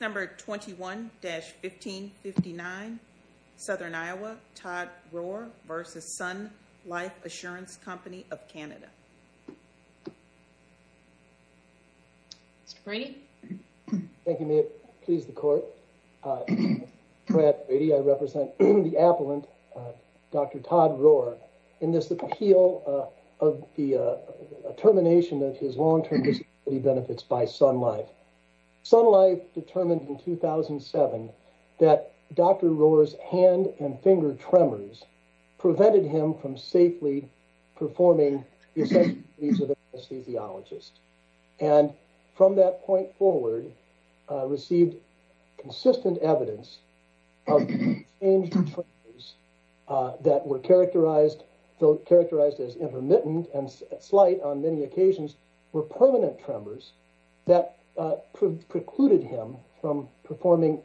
21-1559 Southern Iowa Todd Roehr v. Sun Life Assur.Co.of Canada Mr. Brady. Thank you ma'am. Please the court. Brad Brady. I represent the appellant Dr. Todd Roehr in this appeal of the termination of his long-term disability benefits by Sun Life. Sun Life determined in 2007 that Dr. Roehr's hand and finger tremors prevented him from safely performing the essential duties of an anesthesiologist and from that point forward received consistent evidence of the exchanged tremors that were characterized as intermittent and slight on many occasions were permanent tremors that precluded him from performing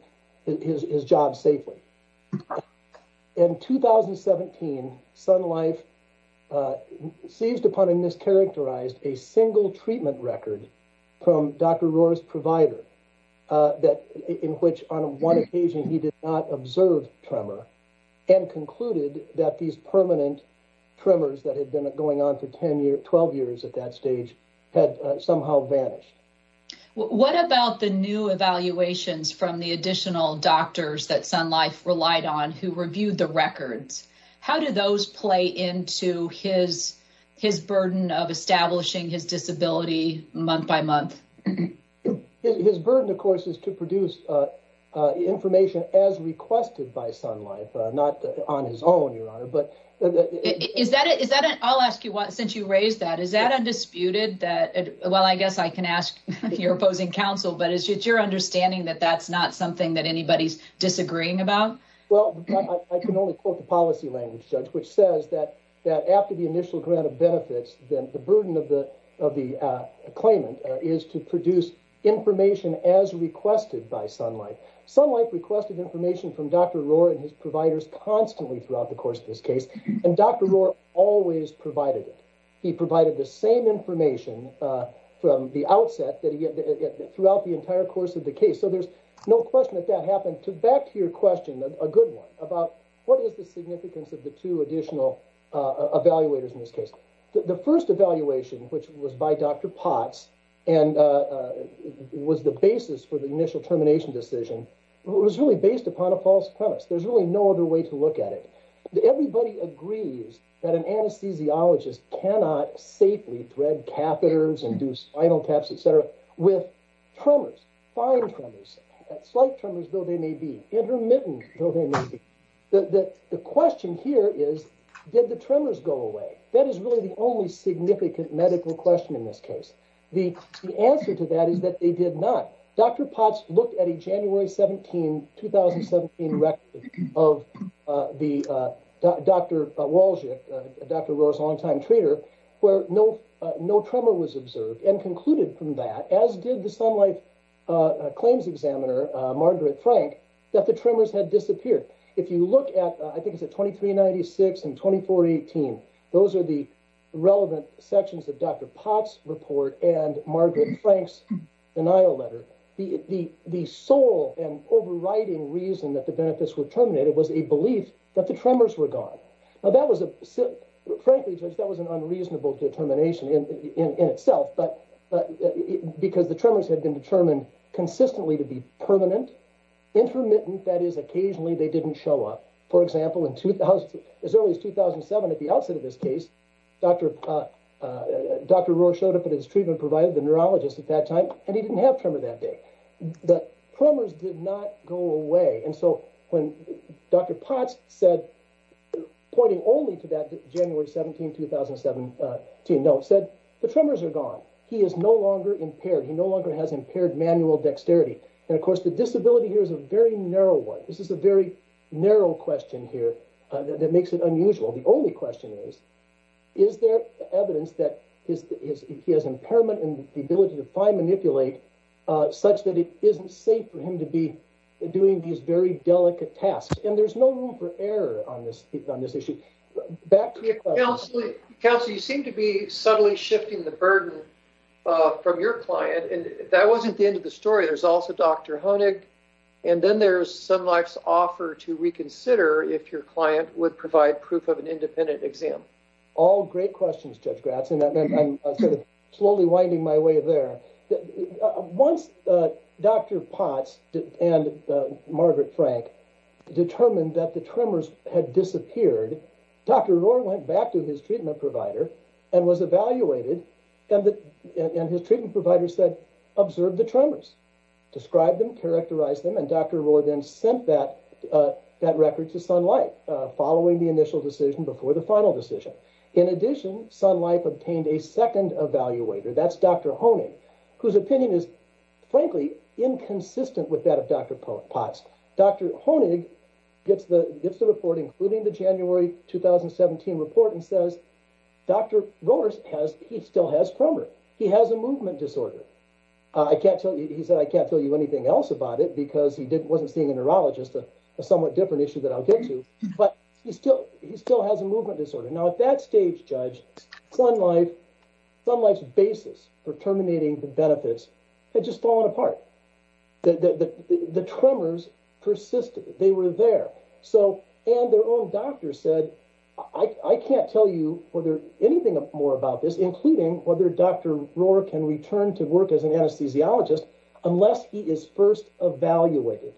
his job safely. In 2017 Sun Life seized upon and mischaracterized a single treatment record from Dr. Roehr's provider that in which on one occasion he did not observe tremor and concluded that these permanent tremors that had been going on for 10 years 12 years at that stage had somehow vanished. What about the new evaluations from the additional doctors that Sun Life relied on who reviewed the records? How do those play into his burden of establishing his disability month by month? His burden of course is to produce information as requested by Sun Life not on his own your honor but is that is that I'll ask you what since you raised that is that undisputed that well I guess I can ask your opposing counsel but it's your understanding that that's not something that anybody's disagreeing about? Well I can only quote the policy language judge which says that that after the initial grant of benefits then the burden of the of the claimant is to produce information as requested by Sun Life. Sun Life requested information from Dr. Roehr and his providers constantly throughout the course of this case and Dr. Roehr always provided it. He provided the same information from the outset that he had throughout the entire course of the case so there's no question that that happened to back to your question a good one about what is the significance of the two additional evaluators in this case. The first evaluation which was by Dr. Potts and was the basis for initial termination decision was really based upon a false premise there's really no other way to look at it. Everybody agrees that an anesthesiologist cannot safely thread catheters and do spinal taps etc with tremors, fine tremors, slight tremors though they may be, intermittent though they may be. The question here is did the tremors go away that is really the only significant medical question in this case. The answer to that is that they did not. Dr. Potts looked at a January 17, 2017 record of Dr. Wolczyk, Dr. Roehr's long-time treater where no tremor was observed and concluded from that as did the Sun Life claims examiner Margaret Frank that the tremors had disappeared. If you look at I think it's at 2396 and 2418 those are the relevant sections of Dr. Potts report and Margaret Frank's denial letter. The sole and overriding reason that the benefits were terminated was a belief that the tremors were gone. Now that was a frankly that was an unreasonable determination in itself but because the tremors had been determined consistently to be permanent, intermittent that is occasionally they didn't show up. For example as early as 2007 at the outset of this case Dr. Roehr showed up at his treatment provider, the neurologist at that time and he didn't have tremor that day. The tremors did not go away and so when Dr. Potts said pointing only to that January 17, 2017 note said the tremors are gone. He is no longer impaired. He no longer has impaired manual dexterity and of course the disability here is a very narrow one. This is a very narrow question here that makes it unusual. The only question is, is there evidence that he has impairment and the ability to fine manipulate such that it isn't safe for him to be doing these very delicate tasks and there's no room for error on this issue. Counselor you seem to be subtly shifting the burden from your client and that then there's some life's offer to reconsider if your client would provide proof of an independent exam. All great questions Judge Gratz and I'm sort of slowly winding my way there. Once Dr. Potts and Margaret Frank determined that the tremors had disappeared, Dr. Roehr went back to his treatment provider and was evaluated and his treatment provider said observe the tremors, describe them, characterize them and Dr. Roehr then sent that record to Sun Life following the initial decision before the final decision. In addition Sun Life obtained a second evaluator, that's Dr. Honig whose opinion is frankly inconsistent with that of Dr. Potts. Dr. Honig gets the report including the January 2017 report and says Dr. Roehr still has tremor. He has a movement disorder. He said I can't tell you anything else about it because he wasn't seeing a neurologist, a somewhat different issue that I'll get to but he still has a movement disorder. Now at that stage Judge, Sun Life's basis for terminating the benefits had just fallen apart. The tremors persisted, they were there and their own doctor said I can't tell you anything more about this including whether Dr. Roehr can return to work as an anesthesiologist unless he is first evaluated.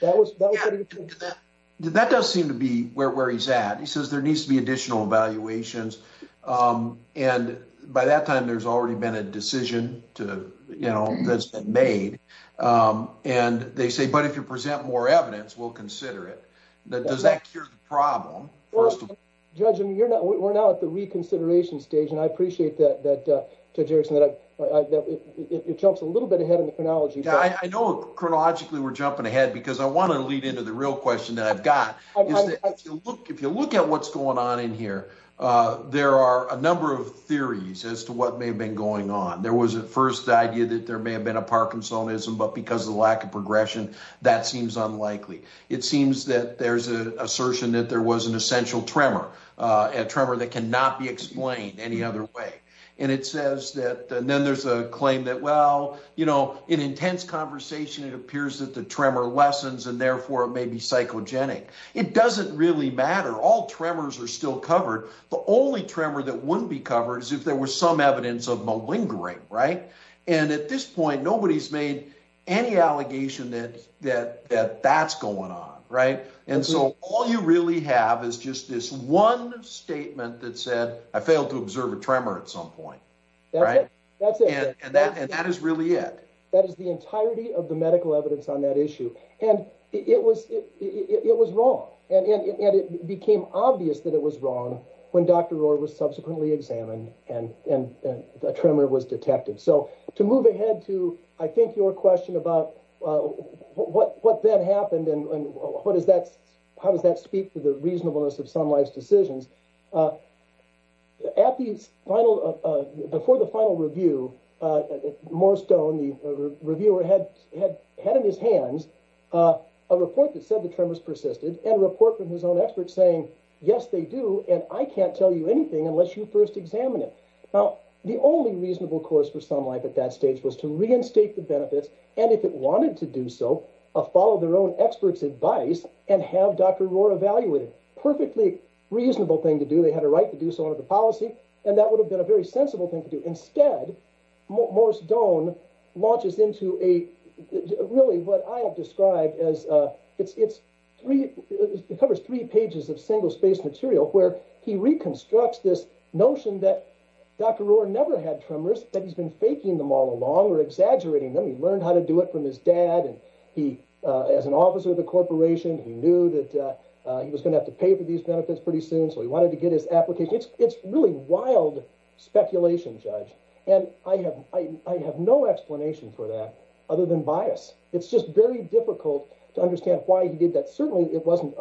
That does seem to be where he's at. He says there needs to be additional evaluations and by that time there's already been a decision that's been made and they say but if you present more evidence we'll consider it. Does that cure the problem? Judge, we're now at the reconsideration stage and I appreciate that Judge Erickson that it jumps a little bit ahead in the chronology. I know chronologically we're jumping ahead because I want to lead into the real question that I've got. If you look at what's going on in here there are a number of theories as to what may have been going on. There was at first the idea that there may have been a Parkinsonism but because of the lack of progression that seems unlikely. It seems that there's an assertion that there was an essential tremor, a tremor that cannot be explained any other way. Then there's a claim that in intense conversation it appears that the tremor lessens and therefore it may be psychogenic. It doesn't really matter. All tremors are still covered. The only tremor that wouldn't be covered is if there was some evidence of malingering. At this point nobody's made any allegation that that's going on. All you really have is just this one statement that said I failed to observe a tremor at some point. That's it. That is really it. That is the entirety of the medical evidence on that issue. It was wrong and it became obvious that it was wrong when Dr. Rohr was subsequently examined and a tremor was detected. To move ahead to I think your question about what then happened and how does that speak to the reasonableness of some life's decisions. Before the final review, Moorestone, the reviewer, had in his hands a report that said the tremors persisted and a report from his own experts saying yes they do and I can't tell you anything unless you first examine it. Now the only reasonable course for some life at that stage was to reinstate the benefits and if it wanted to do so follow their own expert's advice and have Dr. Rohr evaluate it. Perfectly reasonable thing to do. They had a right to do so under the policy and that would have been a very sensible thing to do. Instead Moorestone launches into a really what I have described as it's three it covers three pages of single space material where he constructs this notion that Dr. Rohr never had tremors that he's been faking them all along or exaggerating them. He learned how to do it from his dad and he as an officer of the corporation he knew that he was going to have to pay for these benefits pretty soon so he wanted to get his application. It's really wild speculation judge and I have no explanation for that other than bias. It's just very difficult to understand why he did that. Certainly it wasn't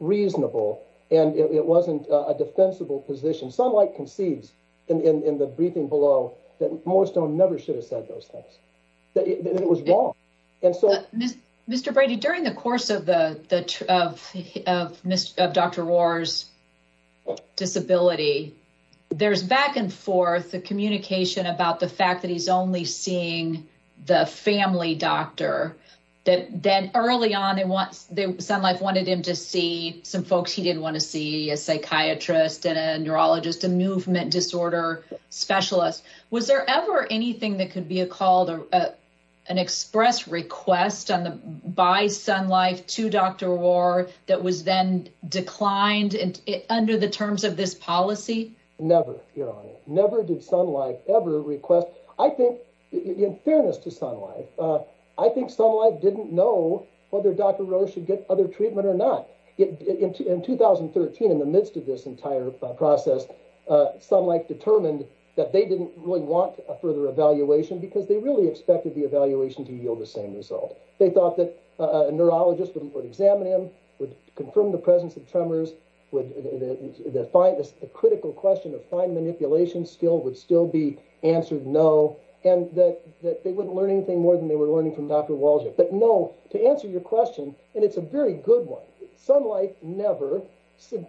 reasonable and it wasn't a defensible position. Sunlight concedes in the briefing below that Moorestone never should have said those things that it was wrong. Mr. Brady during the course of Dr. Rohr's disability there's back and forth the communication about the fact that he's only seeing the family doctor that then early on Sunlight wanted him to see some folks he didn't want to see a psychiatrist and a neurologist a movement disorder specialist. Was there ever anything that could be a called or an express request on the by Sunlight to Dr. Rohr that was then declined under the terms of this policy? Never your honor never did Sunlight ever request I think in fairness to Sunlight I think Sunlight didn't know whether Dr. Rohr should get other treatment or not. In 2013 in the midst of this entire process Sunlight determined that they didn't really want a further evaluation because they really expected the evaluation to yield the same result. They thought that a neurologist would examine him would confirm the presence of tremors that find this a critical question of fine manipulation skill would still be answered no and that that they wouldn't learn anything more than they were learning from Dr. Walsh. But no to answer your question and it's a very good one Sunlight never said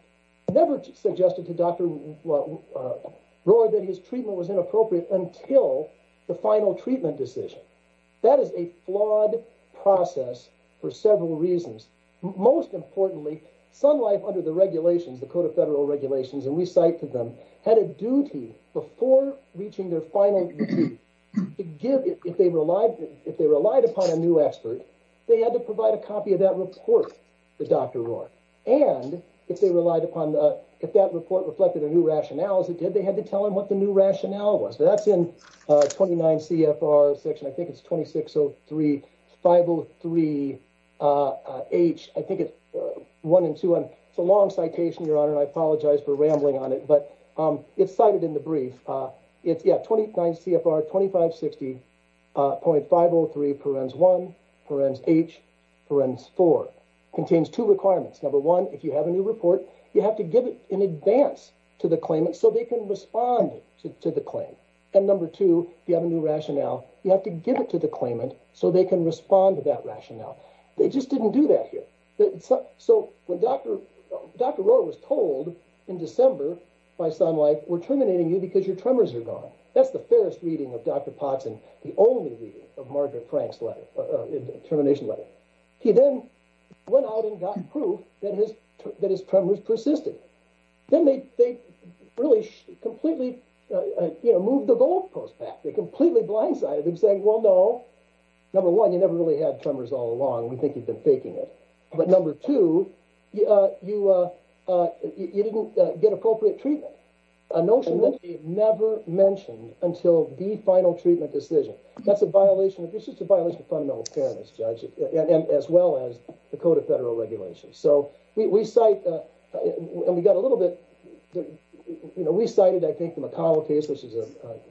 never suggested to Dr. Rohr that his treatment was inappropriate until the final treatment decision. That is a flawed process for several reasons most importantly Sunlight under the regulations the code of federal regulations and we cite to them had a duty before reaching their final duty to give if they relied upon a new expert they had to provide a copy of that report to Dr. Rohr and if they relied upon the if that report reflected a new rationale as it did they had to tell him the new rationale was. That's in 29 CFR section I think it's 2603 503 H I think it's one and two and it's a long citation your honor and I apologize for rambling on it but it's cited in the brief it's yeah 29 CFR 2560.503 parens 1 parens H parens 4 contains two requirements number one if you have a new report you have to give it in advance to the claimant so they can respond to the claim and number two if you have a new rationale you have to give it to the claimant so they can respond to that rationale they just didn't do that here. So when Dr. Rohr was told in December by Sunlight we're terminating you because your tremors are gone that's the fairest reading of Dr. Poxon the only reading of Margaret Frank's letter a termination letter. He then went out and got proof that his that his tremors persisted then they they really completely you know moved the goalpost back they completely blindsided him saying well no number one you never really had tremors all along we think you've been faking it but number two yeah you uh uh you didn't get appropriate treatment a notion that he never mentioned until the final treatment decision that's a violation of this is a violation of fundamental fairness judge and as well as the code of federal regulations so we we cite uh and we got a little bit you know we cited I think the McConnell case which is a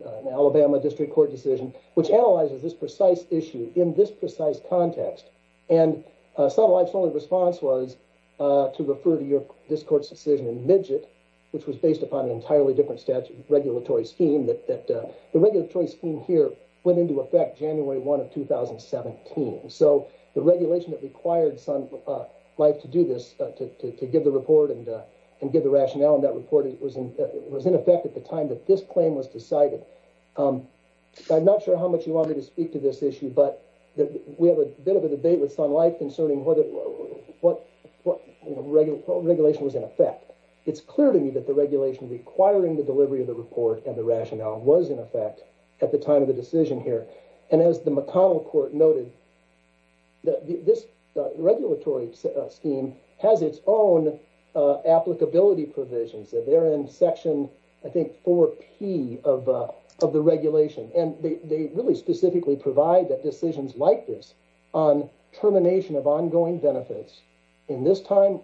an Alabama district court decision which analyzes this precise issue in this precise context and uh Sunlight's only response was uh to refer to your this court's decision in midget which was based upon an entirely different statute regulatory scheme that that uh the regulatory scheme here went into effect January 1 of 2017 so the regulation that required Sunlight to do this uh to to give the report and uh and give the rationale in that report it was in it was in effect at the time that this claim was decided um I'm not sure how much you want me to speak to this issue but that we have a bit of a debate with Sunlight concerning whether what what you know regular regulation was in effect it's clear to me that the regulation requiring the delivery of the report and the rationale was in effect at the time of the decision here and as the McConnell court noted that this regulatory scheme has its own uh applicability provisions that they're in section I think 4p of uh of the regulation and they they really specifically provide that decisions like this on termination of ongoing benefits in this time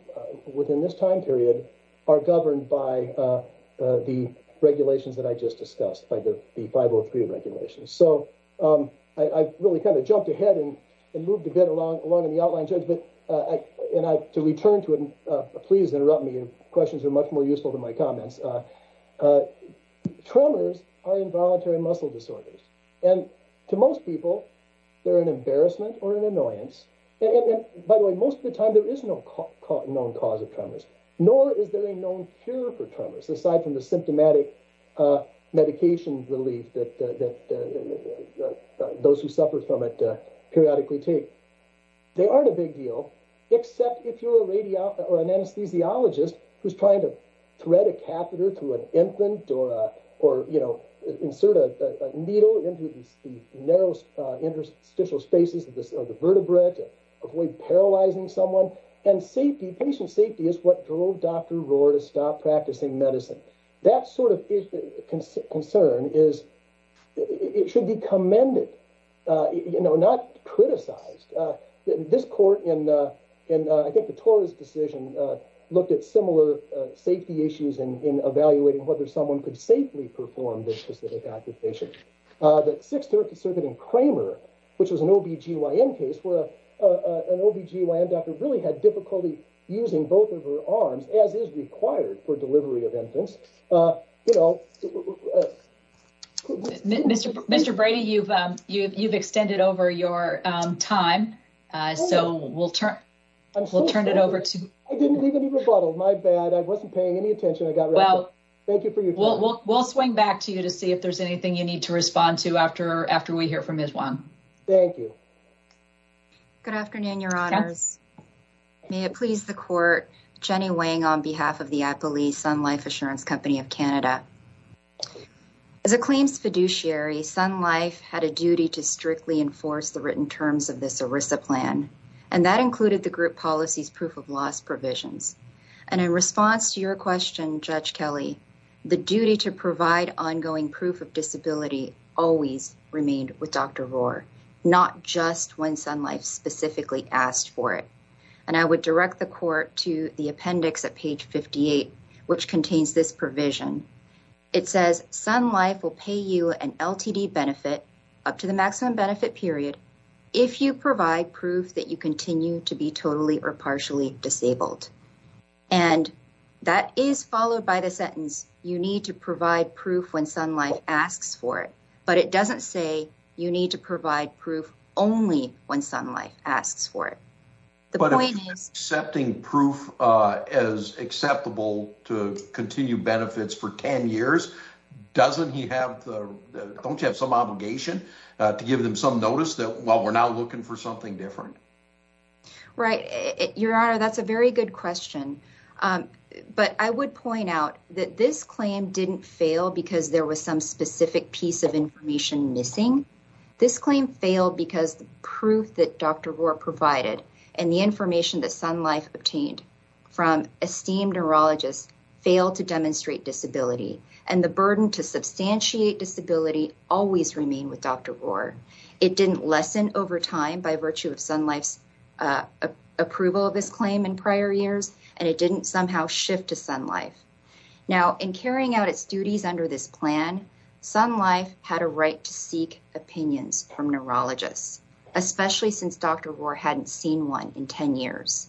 within this time period are governed by uh the regulations that I just discussed by the 503 regulations so um I really kind of jumped ahead and moved a bit along along in the outline judge but uh and I to return to it uh please interrupt me your questions are much more useful than my comments uh tremors are involuntary muscle disorders and to most people they're an embarrassment or an annoyance and by the way most of the time there is no known cause of tremors nor is there a known cure for tremors aside from the symptomatic uh medication relief that that those who suffer from it periodically take they aren't a big deal except if you're a radio or an anesthesiologist who's trying to thread a catheter to an infant or you know insert a needle into the narrow interstitial spaces of the vertebrate avoid paralyzing someone and safety patient safety is what drove Dr. Rohr to stop practicing medicine that sort of concern is it should be commended uh you know not criticized uh this court in uh in uh I think the Torres decision uh looked at similar safety issues in evaluating whether someone could safely perform this specific application uh that 630 circuit in Kramer which was an ob-gyn case where uh an ob-gyn doctor really had difficulty using both of her arms as is required for delivery of infants uh you know Mr. Brady you've um you've extended over your um time uh so we'll turn we'll turn it over to I didn't leave any rebuttal my bad I wasn't paying any attention I got well thank you for your we'll we'll swing back to you to see if there's anything you need to respond to after after we hear from Ms. Wong. Thank you. Good afternoon your honors may it please the court Jenny Wang on behalf of the Appley Sun Life Assurance Company of Canada. As a claims fiduciary Sun Life had a duty to strictly enforce the written terms of this ERISA plan and that included the group policy's proof of loss provisions and in response to your question Judge Kelly the duty to provide ongoing proof of disability always remained with Dr. Rohr not just when Sun Life specifically asked for it and I would direct the court to the appendix at page 58 which contains this provision it says Sun Life will pay you an LTD benefit up to the maximum benefit period if you provide proof that you continue to be totally or partially disabled and that is followed by the sentence you need to provide proof when Sun Life asks for it but it doesn't say you need to provide proof only when Sun Life asks for it. But accepting proof as acceptable to continue benefits for 10 years doesn't he have the don't you have some obligation to give them some notice that well we're now looking for something different? Right your honor that's a very good question but I would point out that this claim didn't fail because there was some specific piece of information missing this claim failed because the proof that Dr. Rohr provided and the information that Sun Life obtained from esteemed neurologists failed to demonstrate disability and the burden to substantiate disability always remained with Dr. Rohr. It didn't lessen over time by virtue of Sun Life's approval of this claim in prior years and it didn't somehow shift to Sun Life. Now in carrying out its duties under this plan Sun Life had a right to seek opinions from neurologists especially since Dr. Rohr hadn't seen one in 10 years.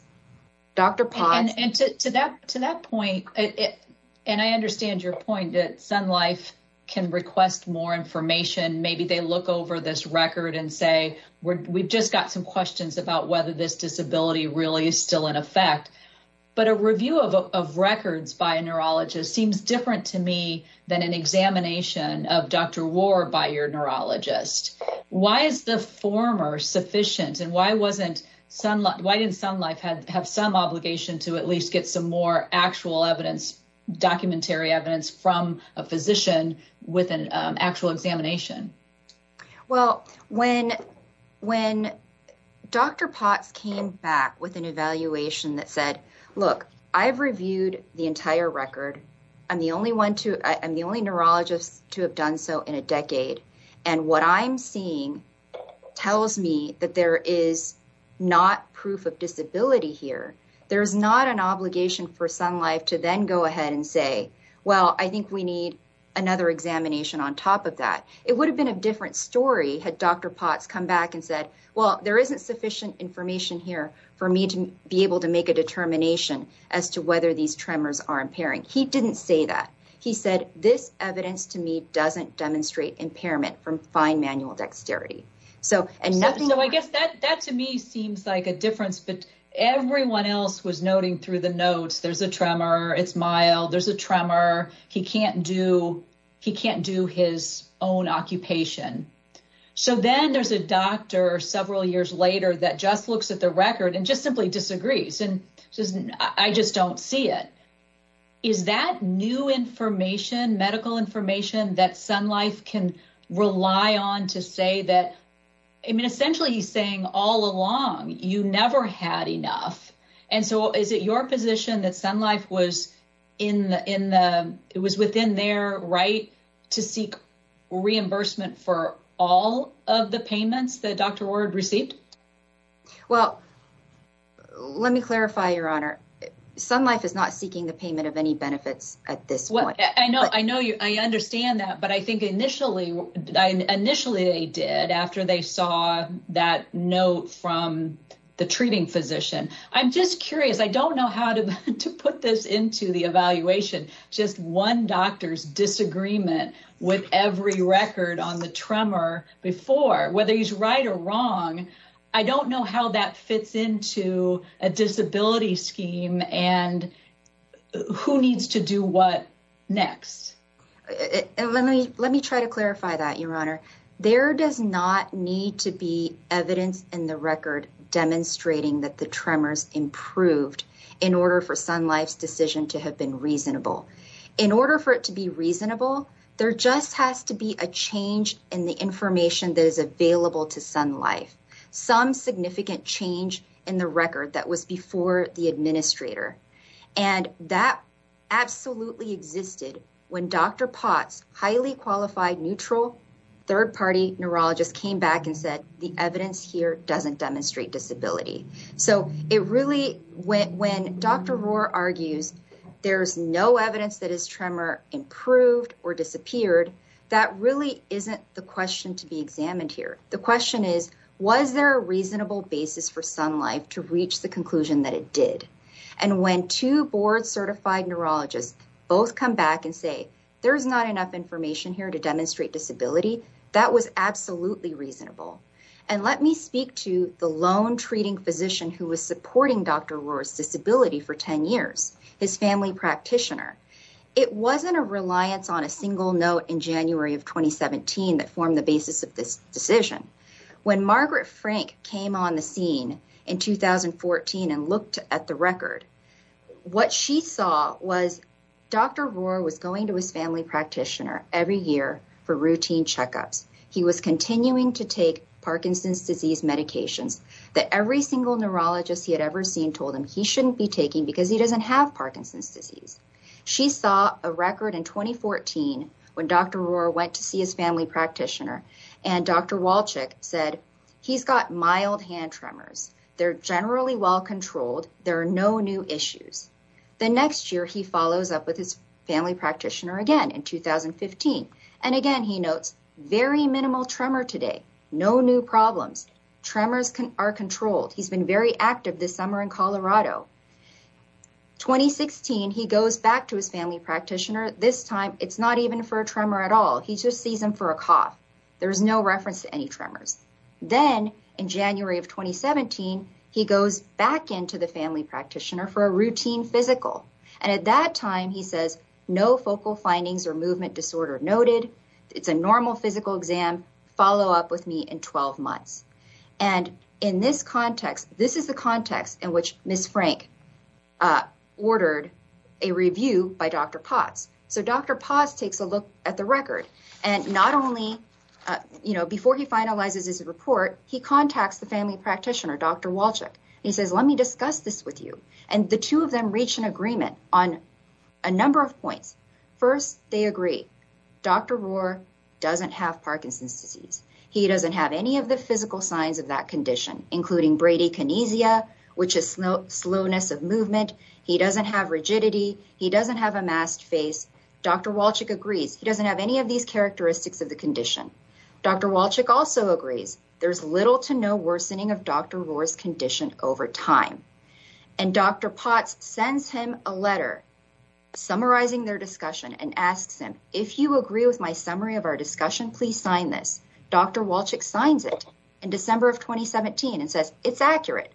Dr. Potts and to that to that point it and I understand your point that Sun Life can request more information maybe they look over this record and say we've just got some questions about whether this disability really is still in effect but a review of records by a neurologist seems different to me than an examination of Dr. Rohr by your neurologist. Why is the former sufficient and why didn't Sun Life have some obligation to at least get some more actual evidence documentary evidence from a physician with an actual examination? Well when when Dr. Potts came back with an evaluation that said look I've reviewed the entire record I'm the only one to I'm the only neurologist to have done so in a decade and what I'm seeing tells me that there is not proof of disability here there's not an obligation for Sun Life to then go ahead and say well I think we need another examination on top of that. It would have been a different story had Dr. Potts come back and said well there isn't sufficient information here for me to be able to make a determination as to whether these tremors are impairing. He didn't say that he said this evidence to me doesn't demonstrate impairment from fine manual dexterity. So and nothing so I guess that that to me seems like a difference but everyone else was noting through the notes there's a tremor it's mild there's a tremor he can't do he can't do his own occupation. So then there's a doctor several years later that just looks at the record and just simply disagrees and says I just don't see it. Is that new information medical information that Sun Life can rely on to say that I mean essentially he's saying all along you never had enough and so is it your position that Sun Life was in the in the it was within their right to seek reimbursement for all of the payments that Dr. Ward received? Well let me clarify your honor Sun Life is not seeking the payment of any benefits at this point. I know I know you I understand that but I think initially I initially they did after they saw that note from the treating physician. I'm just curious I don't know how to to put this into the evaluation just one doctor's disagreement with every record on the tremor before whether he's right or wrong I don't know how that fits into a disability scheme and who needs to do what next. Let me let me try to clarify that your honor there does not need to be evidence in the record demonstrating that the tremors improved in order for Sun Life's decision to have been reasonable. In order for it to be reasonable there just has to be a change in the information that is available to Sun Life some significant change in the record that was before the administrator and that absolutely existed when Dr. Potts highly qualified neutral third-party neurologist came back and said the evidence here doesn't demonstrate disability. So it really when Dr. Rohr argues there's no evidence that his tremor improved or disappeared that really isn't the question to be examined here. The question is was there a reasonable basis for Sun Life to reach the conclusion that it did and when two board certified neurologists both come back and say there's not enough information here to demonstrate disability that was absolutely reasonable and let me speak to the lone treating physician who was supporting Dr. Rohr's disability for 10 years his family practitioner. It wasn't a reliance on a single note in January of 2017 that formed the basis of this decision. When Margaret Frank came on the scene in 2014 and looked at the record what she saw was Dr. Rohr was going to his year for routine checkups. He was continuing to take Parkinson's disease medications that every single neurologist he had ever seen told him he shouldn't be taking because he doesn't have Parkinson's disease. She saw a record in 2014 when Dr. Rohr went to see his family practitioner and Dr. Walchik said he's got mild hand tremors they're generally well controlled there are no new issues. The next year he follows up with his family practitioner again in 2015 and again he notes very minimal tremor today no new problems tremors can are controlled he's been very active this summer in Colorado. 2016 he goes back to his family practitioner this time it's not even for a tremor at all he just sees him for a cough there's no reference to any tremors. Then in January of 2017 he goes back into the family practitioner for a routine physical and at that time he says no focal findings or movement disorder noted it's a normal physical exam follow up with me in 12 months. And in this context this is the context in which Ms. Frank ordered a review by Dr. Potts. So Dr. Potts takes a look at the record and not only you know before he finalizes his report he contacts the family practitioner Dr. Walchik he says let me discuss this with you and the two of them reach an agreement on a number of points. First they agree Dr. Rohr doesn't have Parkinson's disease he doesn't have any of the physical signs of that condition including bradykinesia which is slowness of movement he doesn't have rigidity he doesn't have a masked face Dr. Walchik agrees he doesn't have any of these characteristics of the condition. Dr. Walchik also agrees there's little to no worsening of Dr. Rohr's condition over time. And Dr. Potts sends him a letter summarizing their discussion and asks him if you agree with my summary of our discussion please sign this. Dr. Walchik signs it in December of 2017 and says it's accurate.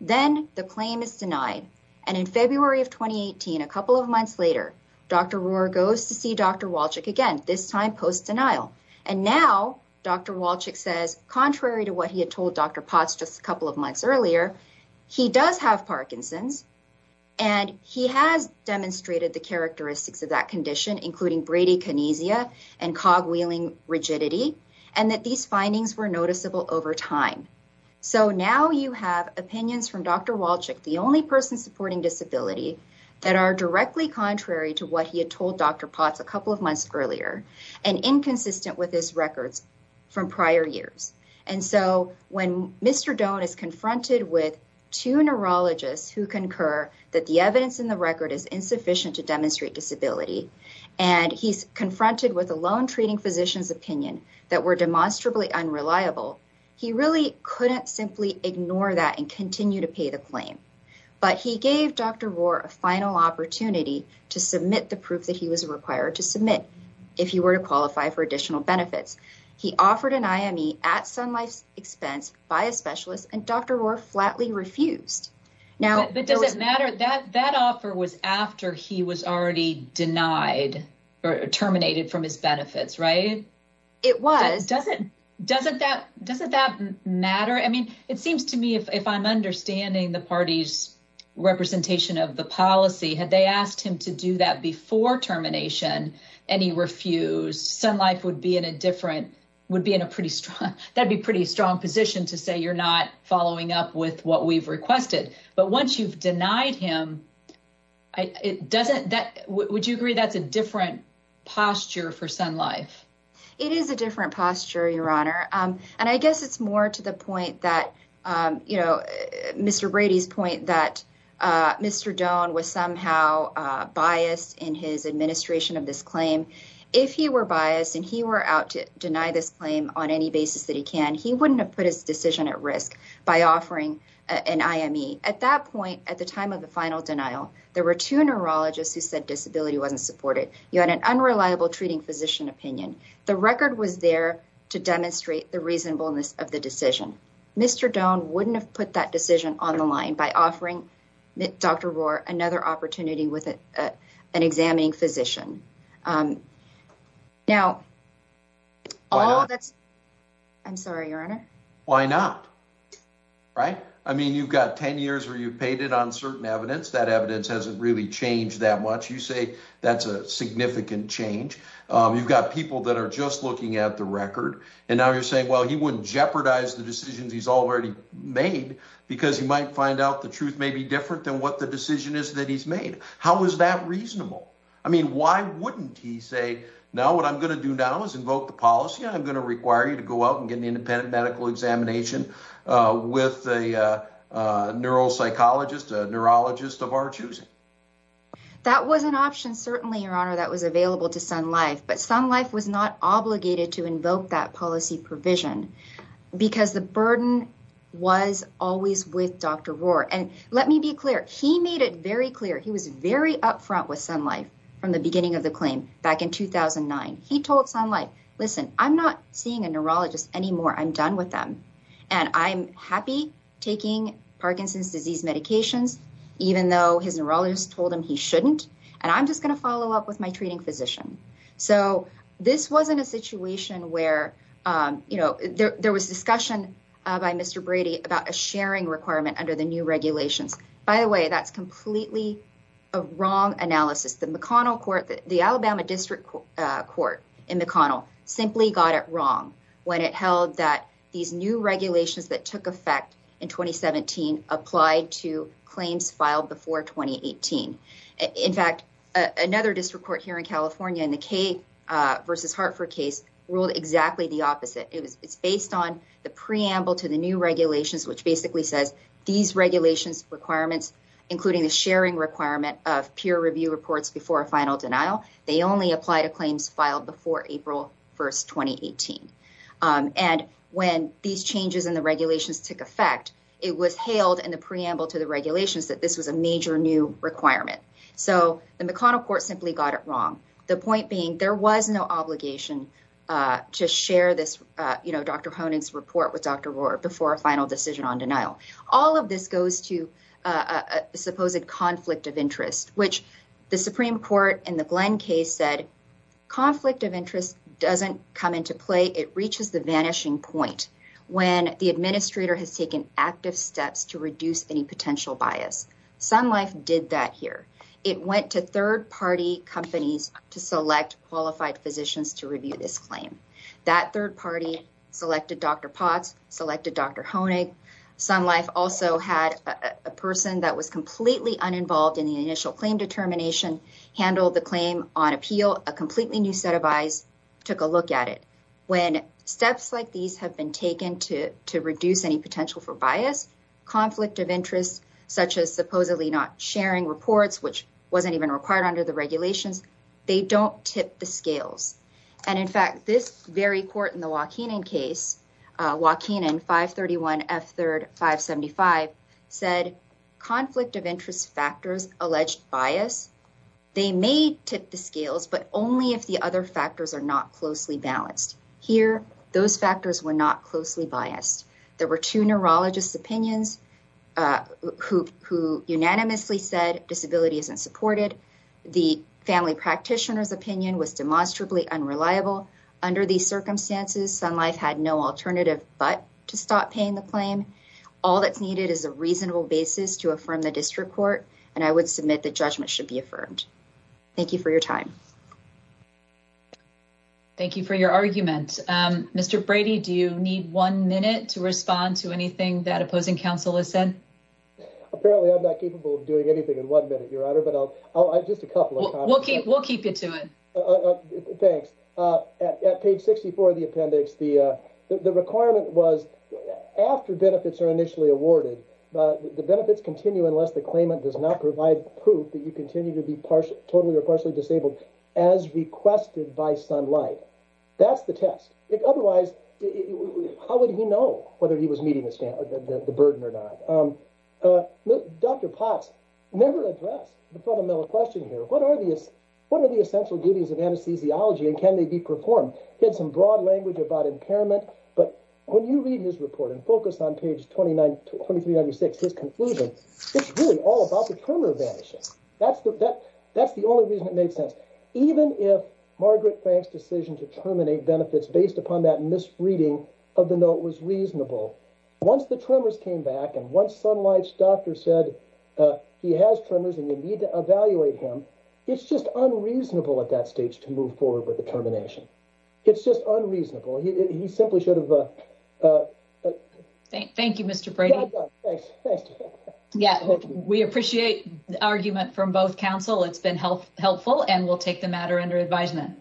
Then the claim is denied and in February of 2018 a couple of months later Dr. Rohr goes to see Dr. Walchik again this time post and now Dr. Walchik says contrary to what he had told Dr. Potts just a couple of months earlier he does have Parkinson's and he has demonstrated the characteristics of that condition including bradykinesia and cogwheeling rigidity and that these findings were noticeable over time. So now you have opinions from Dr. Walchik the only person supporting disability that are directly contrary to what he had told Dr. Potts a couple of months earlier and inconsistent with his records from prior years. And so when Mr. Doan is confronted with two neurologists who concur that the evidence in the record is insufficient to demonstrate disability and he's confronted with a lone treating physician's opinion that were demonstrably unreliable he really couldn't simply ignore that and continue to pay the claim. But he gave Dr. Rohr a final opportunity to submit the proof that he was required to submit if he were to qualify for additional benefits. He offered an IME at Sun Life's expense by a specialist and Dr. Rohr flatly refused. But does it matter that that offer was after he was already denied or terminated from his benefits right? It was. Doesn't that matter? I mean it seems to me if I'm understanding the party's representation of the policy had they asked him to do that before termination and he refused Sun Life would be in a different would be in a pretty strong that'd be pretty strong position to say you're not following up with what we've requested. But once you've denied him it doesn't that would you agree that's a different posture for Sun Life? It is a different posture your honor and I guess it's more to the point that you know Mr. Brady's point that Mr. Doan was somehow biased in his administration of this claim. If he were biased and he were out to deny this claim on any basis that he can he wouldn't have put his decision at risk by offering an IME. At that point at the time of the final denial there were two neurologists who said disability wasn't supported. You had an unreliable treating physician opinion. The record was there to demonstrate the reasonableness of the decision. Mr. Doan wouldn't have put that decision on the line by offering Dr. Rohr another opportunity with an examining physician. Now all that's I'm sorry your honor. Why not right? I mean you've got 10 years where you've paid it on certain evidence. That evidence hasn't really changed that much. You say that's a significant change. You've got people that are just looking at the record and now you're saying well he wouldn't jeopardize the decisions he's already made because he might find out the truth may be different than what the decision is that he's made. How is that reasonable? I mean why wouldn't he say now what I'm going to do now is invoke the policy. I'm going to require you to go out and get an independent medical examination with a neuropsychologist, a neurologist of our choosing. That was an option certainly your honor that was available to Sun Life but Sun Life was not obligated to invoke that policy provision because the burden was always with Dr. Rohr and let me be clear he made it very clear he was very up front with Sun Life from the beginning of the I'm done with them and I'm happy taking Parkinson's disease medications even though his neurologist told him he shouldn't and I'm just going to follow up with my treating physician. So this wasn't a situation where you know there was discussion by Mr. Brady about a sharing requirement under the new regulations. By the way that's completely a wrong analysis. The McConnell the Alabama district court in McConnell simply got it wrong when it held that these new regulations that took effect in 2017 applied to claims filed before 2018. In fact another district court here in California in the Kay versus Hartford case ruled exactly the opposite. It's based on the preamble to the new regulations which basically says these regulations requirements including the sharing requirement of peer review reports before a final denial they only apply to claims filed before April 1st 2018. And when these changes in the regulations took effect it was hailed in the preamble to the regulations that this was a major new requirement. So the McConnell court simply got it wrong. The point being there was no obligation to share this you know Dr. Honig's report with Dr. Rohr before a final decision on denial. All of this goes to a conflict of interest which the Supreme Court in the Glenn case said conflict of interest doesn't come into play. It reaches the vanishing point when the administrator has taken active steps to reduce any potential bias. Sun Life did that here. It went to third party companies to select qualified physicians to review this claim. That third party selected Dr. Potts selected Dr. Honig. Sun Life also had a person that was completely uninvolved in the initial claim determination handled the claim on appeal a completely new set of eyes took a look at it. When steps like these have been taken to to reduce any potential for bias conflict of interest such as supposedly not sharing reports which wasn't even required under the regulations they don't tip the scales. And in fact this very court in the Joaquin case Joaquin 531 F3rd 575 said conflict of interest factors alleged bias. They may tip the scales but only if the other factors are not closely balanced. Here those factors were not closely biased. There were two neurologists opinions who unanimously said disability isn't supported. The family practitioner's opinion was demonstrably unreliable. Under these circumstances Sun Life had no alternative but to stop paying the claim. All that's needed is a reasonable basis to affirm the district court and I would submit the judgment should be affirmed. Thank you for your time. Thank you for your argument. Mr. Brady do you need one minute to respond to anything that opposing counsel has said? Apparently I'm not capable of doing anything in one minute your honor but I'll just a couple of comments. We'll keep you to it. Thanks. At page 64 of the appendix the requirement was after benefits are initially awarded the benefits continue unless the claimant does not provide proof that you continue to be partially totally or partially disabled as requested by Sun Life. That's the test. Otherwise how would he know whether he was the burden or not? Dr. Potts never addressed the fundamental question here. What are the essential duties of anesthesiology and can they be performed? He had some broad language about impairment but when you read his report and focus on page 29 to 2396 his conclusion it's really all about the tumor vanishing. That's the only reason it made sense. Even if Margaret Frank's decision to terminate benefits based upon that misreading of the note was reasonable. Once the tremors came back and once Sun Life's doctor said he has tremors and you need to evaluate him it's just unreasonable at that stage to move forward with the termination. It's just unreasonable. He simply should have... Thank you Mr. Brady. Yeah we appreciate the argument from both counsel. It's been helpful and we'll take the matter under advisement.